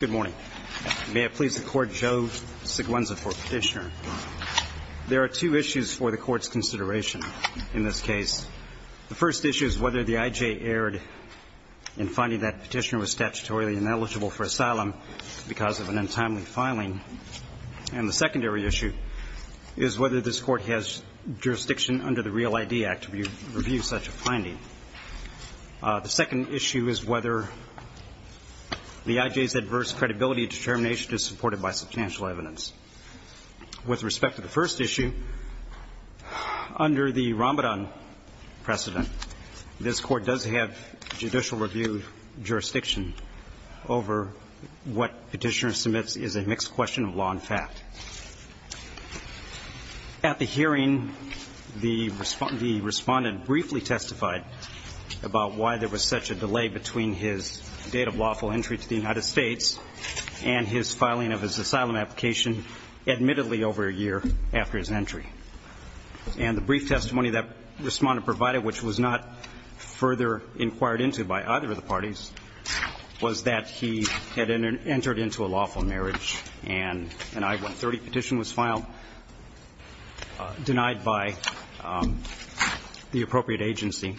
Good morning. May it please the Court, Joe Siguenza for petitioner. There are two issues for the Court's consideration in this case. The first issue is whether the IJ erred in finding that petitioner was statutorily ineligible for asylum because of an untimely filing. And the secondary issue is whether this Court has jurisdiction under the Real ID Act to review such a finding. The second issue is whether the IJ's adverse credibility determination is supported by substantial evidence. With respect to the first issue, under the Ramadan precedent, this Court does have judicial review jurisdiction over what petitioner submits is a mixed question of law and fact. At the hearing, the respondent briefly testified about why there was such a delay between his date of lawful entry to the United States and his filing of his asylum application admittedly over a year after his entry. And the brief testimony that respondent provided, which was not further inquired into by either of the parties, was that he had entered into a lawful marriage and an I-130 petition was filed, denied by the appropriate agency.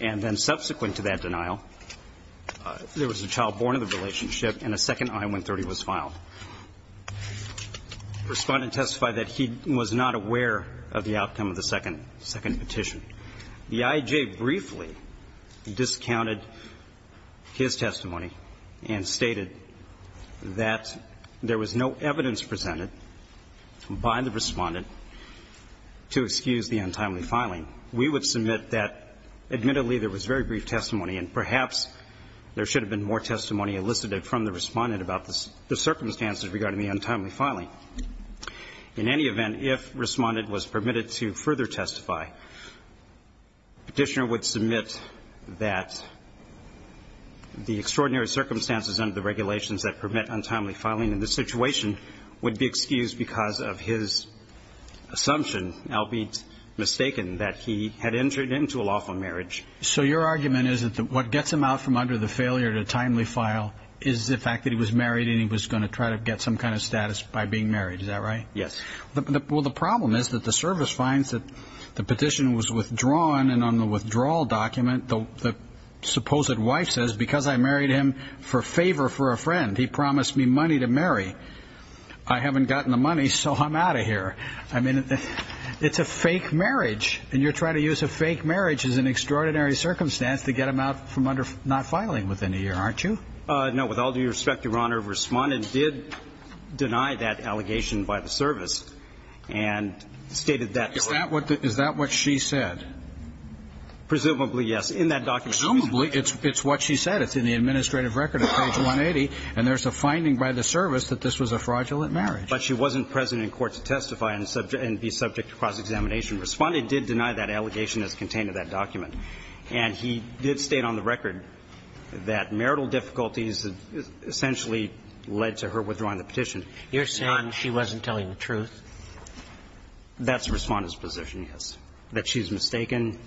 And then subsequent to that denial, there was a child born in the relationship and a second I-130 was filed. Respondent testified that he was not aware of the outcome of the second petition. The IJ briefly discounted his testimony and stated that there was no evidence presented by the respondent to excuse the untimely filing. We would submit that admittedly there was very brief testimony and perhaps there should have been more testimony elicited from the respondent about the circumstances regarding the untimely filing. In any event, if respondent was permitted to further testify, petitioner would submit that the extraordinary circumstances under the regulations that permit untimely filing in this situation would be excused because of his assumption, albeit mistaken, that he had entered into a lawful marriage. So your argument is that what gets him out from under the failure to timely file is the fact that he was married and he was going to try to get some kind of status by being married, is that right? Yes. Well, the problem is that the service finds that the petition was withdrawn and on the withdrawal document the supposed wife says because I married him for favor for a friend, he promised me money to marry. I haven't gotten the money, so I'm out of here. I mean, it's a fake marriage and you're trying to use a fake marriage as an extraordinary circumstance to get him out from under not filing within a year, aren't you? No. With all due respect, Your Honor, respondent did deny that allegation by the service and stated that. Is that what she said? Presumably, yes. In that document. Presumably, it's what she said. It's in the administrative record at page 180 and there's a finding by the service that this was a fraudulent marriage. But she wasn't present in court to testify and be subject to cross-examination. Respondent did deny that allegation as contained in that document. And he did state on the record that marital difficulties essentially led to her withdrawing the petition. You're saying she wasn't telling the truth? That's the Respondent's position, yes, that she's mistaken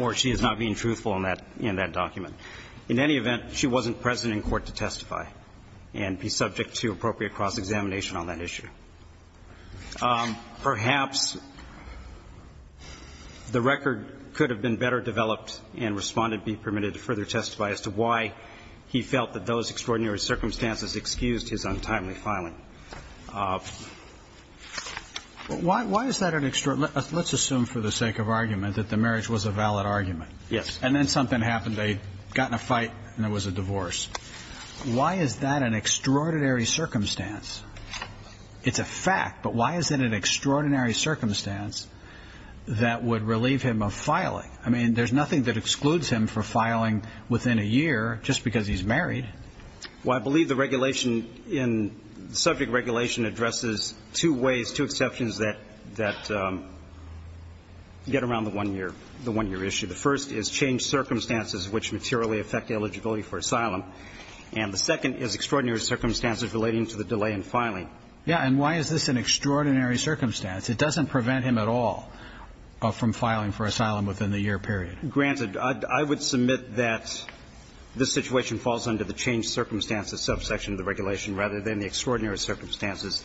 or she is not being truthful in that document. In any event, she wasn't present in court to testify and be subject to appropriate cross-examination on that issue. Perhaps the record could have been better developed and Respondent be permitted to further testify as to why he felt that those extraordinary circumstances excused his untimely filing. Why is that an extraordinary? Let's assume for the sake of argument that the marriage was a valid argument. Yes. And then something happened. They got in a fight and there was a divorce. Why is that an extraordinary circumstance? It's a fact, but why is it an extraordinary circumstance that would relieve him of filing? I mean, there's nothing that excludes him from filing within a year just because he's married. Well, I believe the regulation in the subject regulation addresses two ways, two exceptions that get around the one-year issue. The first is changed circumstances which materially affect eligibility for asylum. And the second is extraordinary circumstances relating to the delay in filing. Yes. And why is this an extraordinary circumstance? It doesn't prevent him at all from filing for asylum within the year period. Granted. I would submit that this situation falls under the changed circumstances subsection of the regulation rather than the extraordinary circumstances.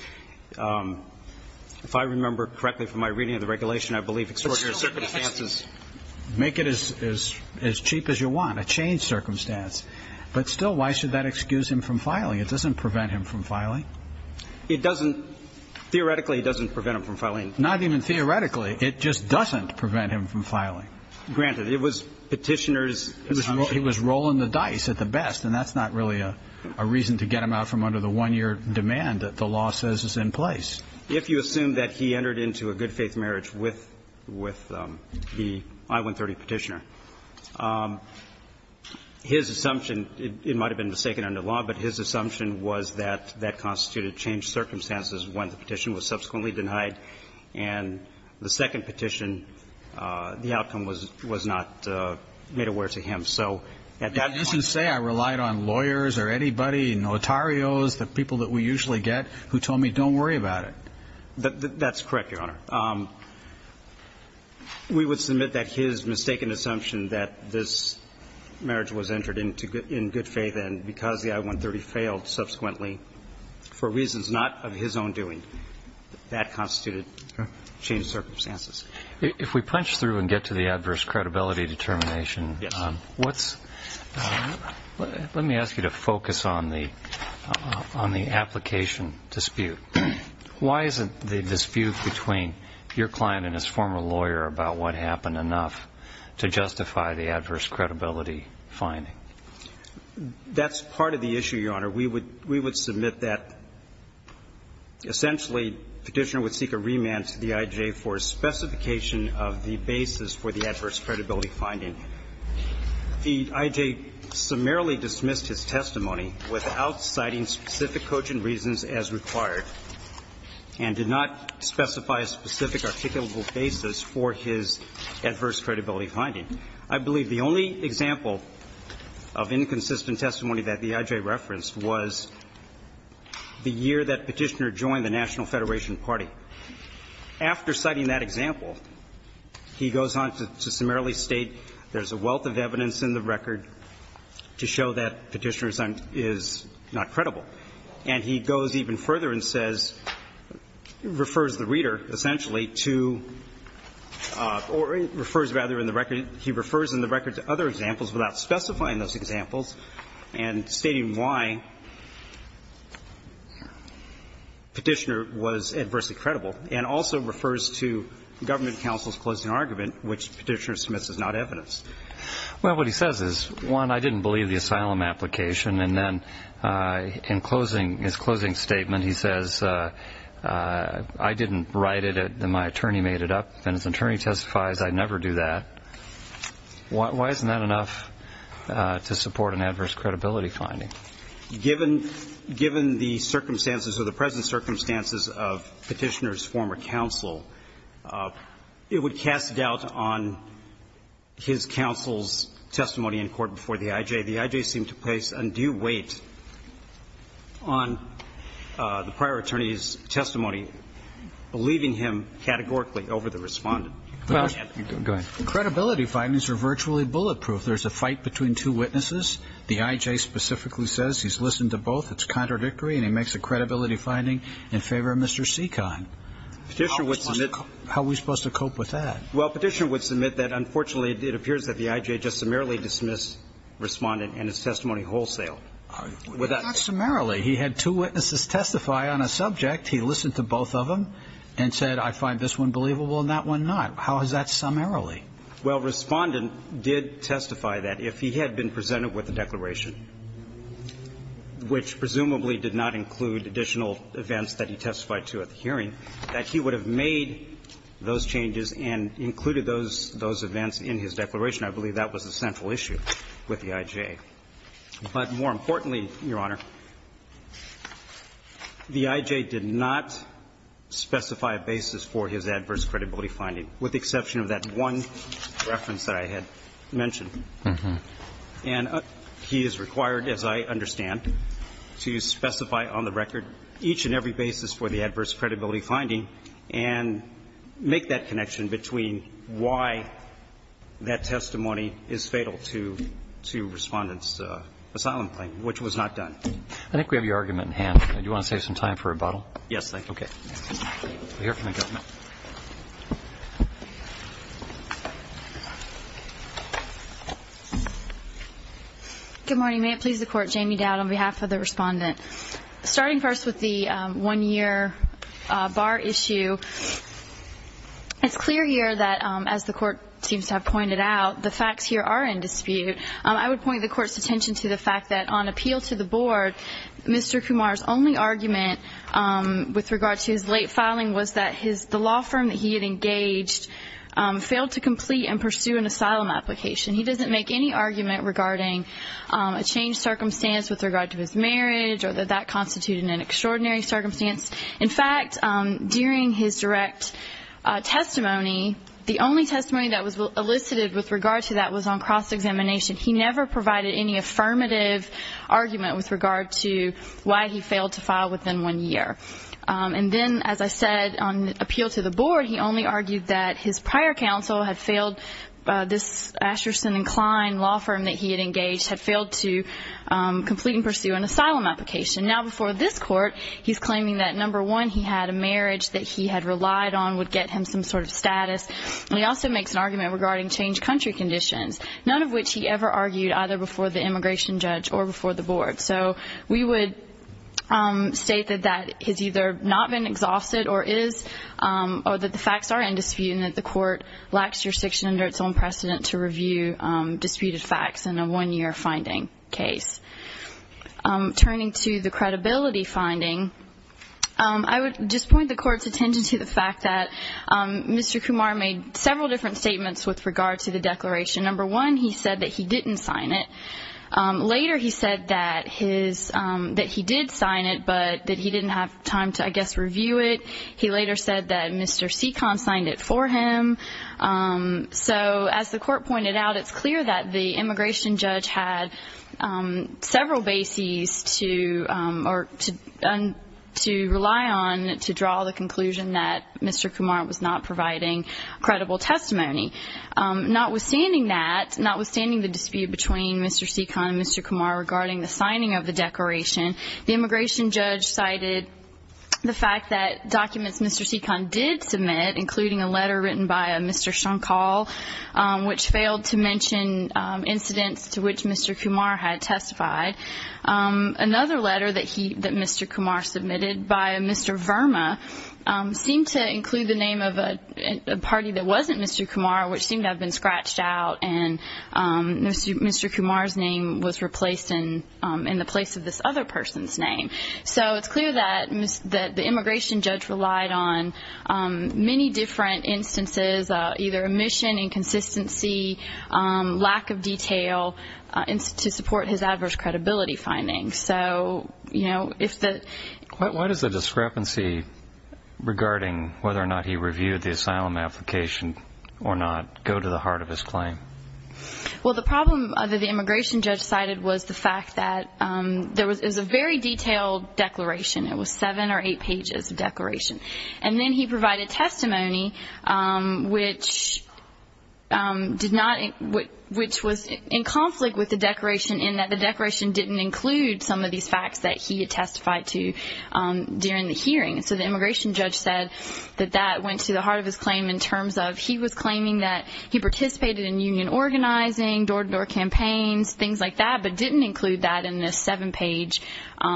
If I remember correctly from my reading of the regulation, I believe extraordinary circumstances make it as cheap as you want, a changed circumstance. But still, why should that excuse him from filing? It doesn't prevent him from filing. It doesn't. Theoretically, it doesn't prevent him from filing. Not even theoretically. It just doesn't prevent him from filing. Granted. It was Petitioner's assumption. He was rolling the dice at the best, and that's not really a reason to get him out from under the one-year demand that the law says is in place. If you assume that he entered into a good-faith marriage with the I-130 Petitioner, his assumption, it might have been mistaken under law, but his assumption was that that constituted changed circumstances when the petition was subsequently denied, and the second petition, the outcome was not made aware to him. So at that point ---- It doesn't say I relied on lawyers or anybody, notarios, the people that we usually get, who told me don't worry about it. That's correct, Your Honor. We would submit that his mistaken assumption that this marriage was entered in good faith and because the I-130 failed subsequently for reasons not of his own doing, that constituted changed circumstances. If we punch through and get to the adverse credibility determination, what's ---- Why isn't the dispute between your client and his former lawyer about what happened enough to justify the adverse credibility finding? That's part of the issue, Your Honor. We would submit that essentially Petitioner would seek a remand to the IJ for specification of the basis for the adverse credibility finding. The IJ summarily dismissed his testimony without citing specific coaching reasons as required and did not specify a specific articulable basis for his adverse credibility finding. I believe the only example of inconsistent testimony that the IJ referenced was the year that Petitioner joined the National Federation Party. After citing that example, he goes on to summarily state there's a wealth of evidence in the record to show that Petitioner is not credible. And he goes even further and says, refers the reader essentially to or refers rather in the record, he refers in the record to other examples without specifying those examples and stating why Petitioner was adversely credible and also refers to government counsel's closing argument, which Petitioner submits as not evidence. Well, what he says is, one, I didn't believe the asylum application, and then in closing, his closing statement he says, I didn't write it, my attorney made it up, and his attorney testifies I'd never do that. Why isn't that enough to support an adverse credibility finding? Given the circumstances or the present circumstances of Petitioner's former counsel, it would cast doubt on his counsel's testimony in court before the IJ. The IJ seemed to place undue weight on the prior attorney's testimony, believing him categorically over the Respondent. Go ahead. Credibility findings are virtually bulletproof. There's a fight between two witnesses. The IJ specifically says he's listened to both, it's contradictory, and he makes a credibility finding in favor of Mr. Seacon. How are we supposed to cope with that? Well, Petitioner would submit that unfortunately it appears that the IJ just summarily dismissed Respondent and his testimony wholesale. Not summarily. He had two witnesses testify on a subject. He listened to both of them and said, I find this one believable and that one not. How is that summarily? Well, Respondent did testify that if he had been presented with a declaration, which presumably did not include additional events that he testified to at the hearing, that he would have made those changes and included those events in his declaration. I believe that was the central issue with the IJ. But more importantly, Your Honor, the IJ did not specify a basis for his adverse credibility finding, with the exception of that one reference that I had mentioned. And he is required, as I understand, to specify on the record each and every basis for the adverse credibility finding and make that connection between why that testimony is fatal to Respondent's asylum claim, which was not done. I think we have your argument in hand. Do you want to save some time for rebuttal? Yes, thank you. Okay. We'll hear from the government. Good morning. May it please the Court. Jamie Dowd on behalf of the Respondent. Starting first with the one-year bar issue. It's clear here that, as the Court seems to have pointed out, the facts here are in dispute. I would point the Court's attention to the fact that on appeal to the Board, Mr. Kumar's only argument with regard to his late filing was that the law firm that he had engaged failed to complete and pursue an asylum application. He doesn't make any argument regarding a changed circumstance with regard to his marriage or that that constituted an extraordinary circumstance. In fact, during his direct testimony, the only testimony that was elicited with regard to that was on cross-examination. He never provided any affirmative argument with regard to why he failed to file within one year. And then, as I said, on appeal to the Board, he only argued that his prior counsel had failed this Asherson & Kline law firm that he had engaged, had failed to complete and pursue an asylum application. Now, before this Court, he's claiming that, number one, he had a marriage that he had relied on would get him some sort of status, and he also makes an argument regarding changed country conditions, none of which he ever argued either before the immigration judge or before the Board. So we would state that that has either not been exhausted or is, or that the facts are in dispute and that the Court lacks jurisdiction under its own precedent to review disputed facts in a one-year finding case. Turning to the credibility finding, I would just point the Court's attention to the fact that Mr. Kumar made several different statements with regard to the declaration. Number one, he said that he didn't sign it. Later, he said that his, that he did sign it, but that he didn't have time to, I guess, review it. He later said that Mr. Seekon signed it for him. So as the Court pointed out, it's clear that the immigration judge had several bases to, or to rely on to draw the conclusion that Mr. Kumar was not providing credible testimony. Notwithstanding that, notwithstanding the dispute between Mr. Seekon and Mr. Kumar regarding the signing of the declaration, the immigration judge cited the fact that documents Mr. Seekon did submit, including a letter written by Mr. Shankal, which failed to mention incidents to which Mr. Kumar had testified. Another letter that he, that Mr. Kumar submitted by Mr. Verma, seemed to include the name of a party that wasn't Mr. Kumar, which seemed to have been scratched out, and Mr. Kumar's name was replaced in the place of this other person's name. So it's clear that the immigration judge relied on many different instances, either omission, inconsistency, lack of detail, to support his adverse credibility findings. Why does the discrepancy regarding whether or not he reviewed the asylum application or not go to the heart of his claim? Well, the problem that the immigration judge cited was the fact that there was a very detailed declaration. It was seven or eight pages of declaration. And then he provided testimony which did not, which was in conflict with the declaration in that the declaration didn't include some of these facts that he had testified to during the hearing. So the immigration judge said that that went to the heart of his claim in terms of, he was claiming that he participated in union organizing, door-to-door campaigns, things like that, but didn't include that in this seven-page,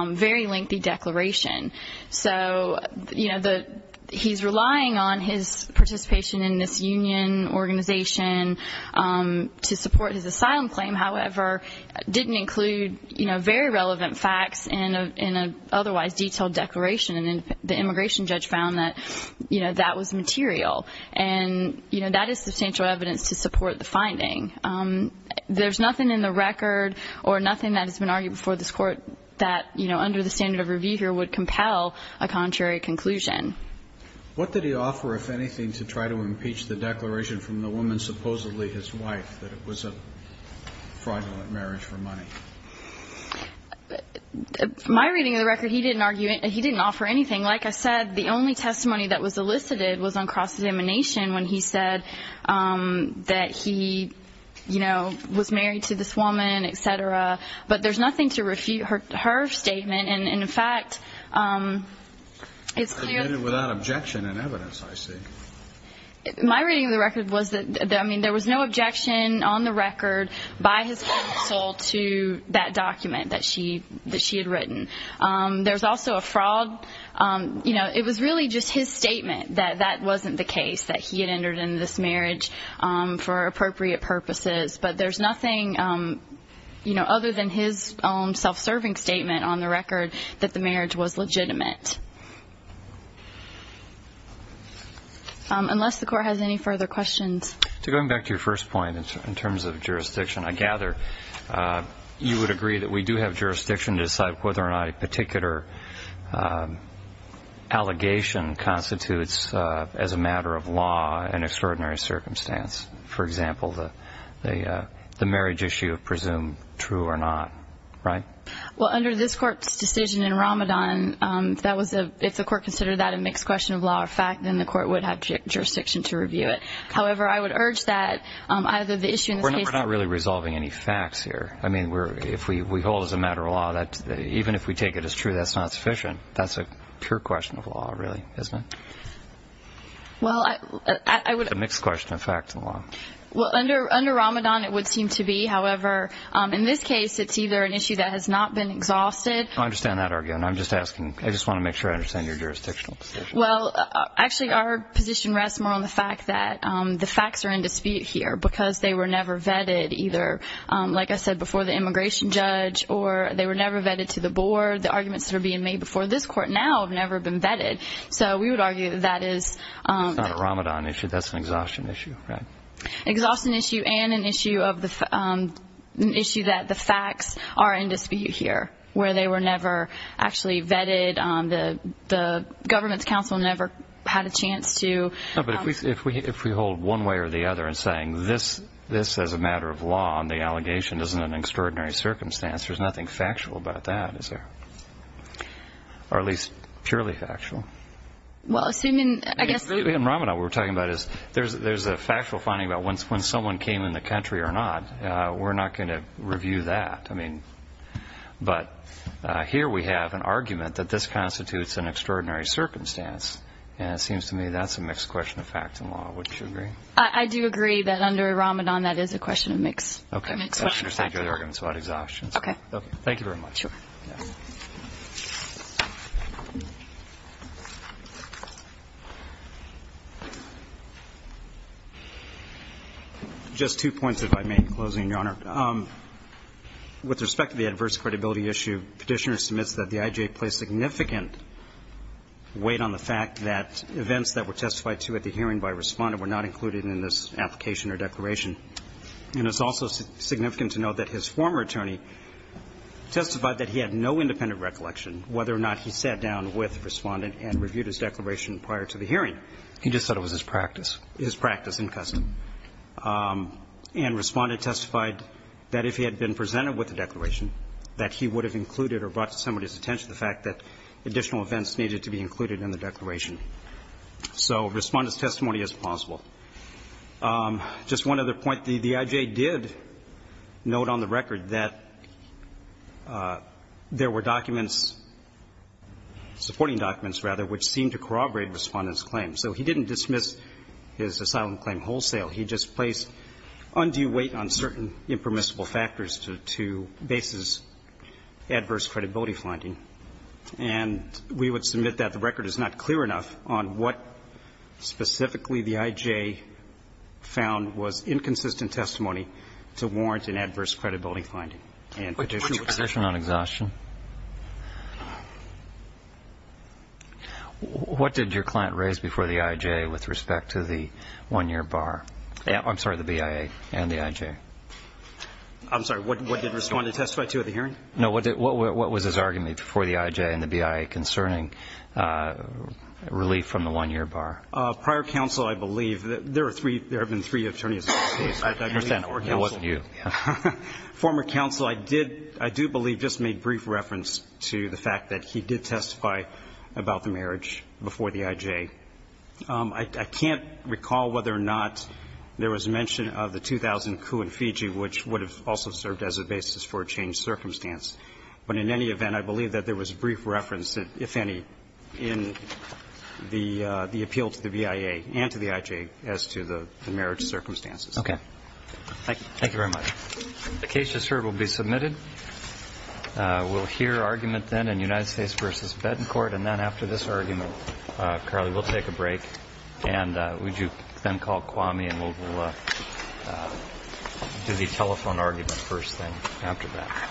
very lengthy declaration. So, you know, he's relying on his participation in this union organization to support his asylum claim, however, didn't include, you know, very relevant facts in an otherwise detailed declaration. And then the immigration judge found that, you know, that was material. And, you know, that is substantial evidence to support the finding. There's nothing in the record or nothing that has been argued before this court that, you know, under the standard of review here would compel a contrary conclusion. What did he offer, if anything, to try to impeach the declaration from the woman, supposedly his wife, that it was a fraudulent marriage for money? My reading of the record, he didn't argue, he didn't offer anything. Like I said, the only testimony that was elicited was on cross-examination when he said that he, you know, was married to this woman, et cetera. But there's nothing to refute her statement. And, in fact, it's clear that... I read it without objection and evidence, I see. My reading of the record was that, I mean, there was no objection on the record by his counsel to that document that she had written. There's also a fraud, you know, it was really just his statement that that wasn't the case, that he had entered into this marriage for appropriate purposes. But there's nothing, you know, other than his own self-serving statement on the record that the marriage was legitimate. Unless the court has any further questions. Going back to your first point in terms of jurisdiction, I gather you would agree that we do have jurisdiction to decide whether or not a particular allegation constitutes as a matter of law an extraordinary circumstance. For example, the marriage issue of presumed true or not, right? Well, under this court's decision in Ramadan, if the court considered that a mixed question of law or fact, then the court would have jurisdiction to review it. However, I would urge that either the issue in this case... We're not really resolving any facts here. I mean, if we hold as a matter of law that even if we take it as true that's not sufficient, that's a pure question of law, really, isn't it? Well, I would... It's a mixed question of facts and law. Well, under Ramadan it would seem to be. However, in this case it's either an issue that has not been exhausted... I understand that argument. I'm just asking. I just want to make sure I understand your jurisdictional position. Well, actually, our position rests more on the fact that the facts are in dispute here because they were never vetted either, like I said, before the immigration judge or they were never vetted to the board. The arguments that are being made before this court now have never been vetted. So we would argue that that is... Under the Ramadan issue that's an exhaustion issue, right? Exhaustion issue and an issue that the facts are in dispute here where they were never actually vetted. The government's counsel never had a chance to... No, but if we hold one way or the other in saying this as a matter of law and the allegation isn't an extraordinary circumstance, there's nothing factual about that, is there? Or at least purely factual. Well, assuming, I guess... In Ramadan what we're talking about is there's a factual finding about when someone came in the country or not. We're not going to review that. But here we have an argument that this constitutes an extraordinary circumstance, and it seems to me that's a mixed question of facts and law. Would you agree? I do agree that under Ramadan that is a question of mixed facts and law. Okay, I understand your arguments about exhaustion. Okay. Thank you very much. Sure. Just two points, if I may, in closing, Your Honor. With respect to the adverse credibility issue, Petitioner submits that the IJA placed significant weight on the fact that events that were testified to at the hearing by Respondent were not included in this application or declaration. And it's also significant to note that his former attorney testified that he had no independent recollection whether or not he sat down with Respondent and reviewed his declaration prior to the hearing. He just said it was his practice. His practice and custom. And Respondent testified that if he had been presented with the declaration, that he would have included or brought to somebody's attention the fact that additional events needed to be included in the declaration. So Respondent's testimony is plausible. Just one other point. The IJA did note on the record that there were documents, supporting documents, rather, which seemed to corroborate Respondent's claim. So he didn't dismiss his asylum claim wholesale. He just placed undue weight on certain impermissible factors to basis adverse credibility finding. And we would submit that the record is not clear enough on what specifically the IJA found was inconsistent testimony to warrant an adverse credibility finding. And Petitioner would say that. What did your client raise before the IJA with respect to the one-year bar? I'm sorry, the BIA and the IJA. I'm sorry. What did Respondent testify to at the hearing? No. What was his argument before the IJA and the BIA concerning relief from the one-year bar? Prior counsel, I believe, there have been three attorneys. I believe four counsel. I understand. It wasn't you. Former counsel, I do believe, just made brief reference to the fact that he did testify about the marriage before the IJA. I can't recall whether or not there was mention of the 2000 coup in Fiji, which would have also served as a basis for a changed circumstance. But in any event, I believe that there was brief reference, if any, in the appeal to the BIA and to the IJA as to the marriage circumstances. Okay. Thank you. Thank you very much. The case just heard will be submitted. We'll hear argument then in United States v. Betancourt. And then after this argument, Carly, we'll take a break. And would you then call Kwame and we'll do the telephone argument first thing after that.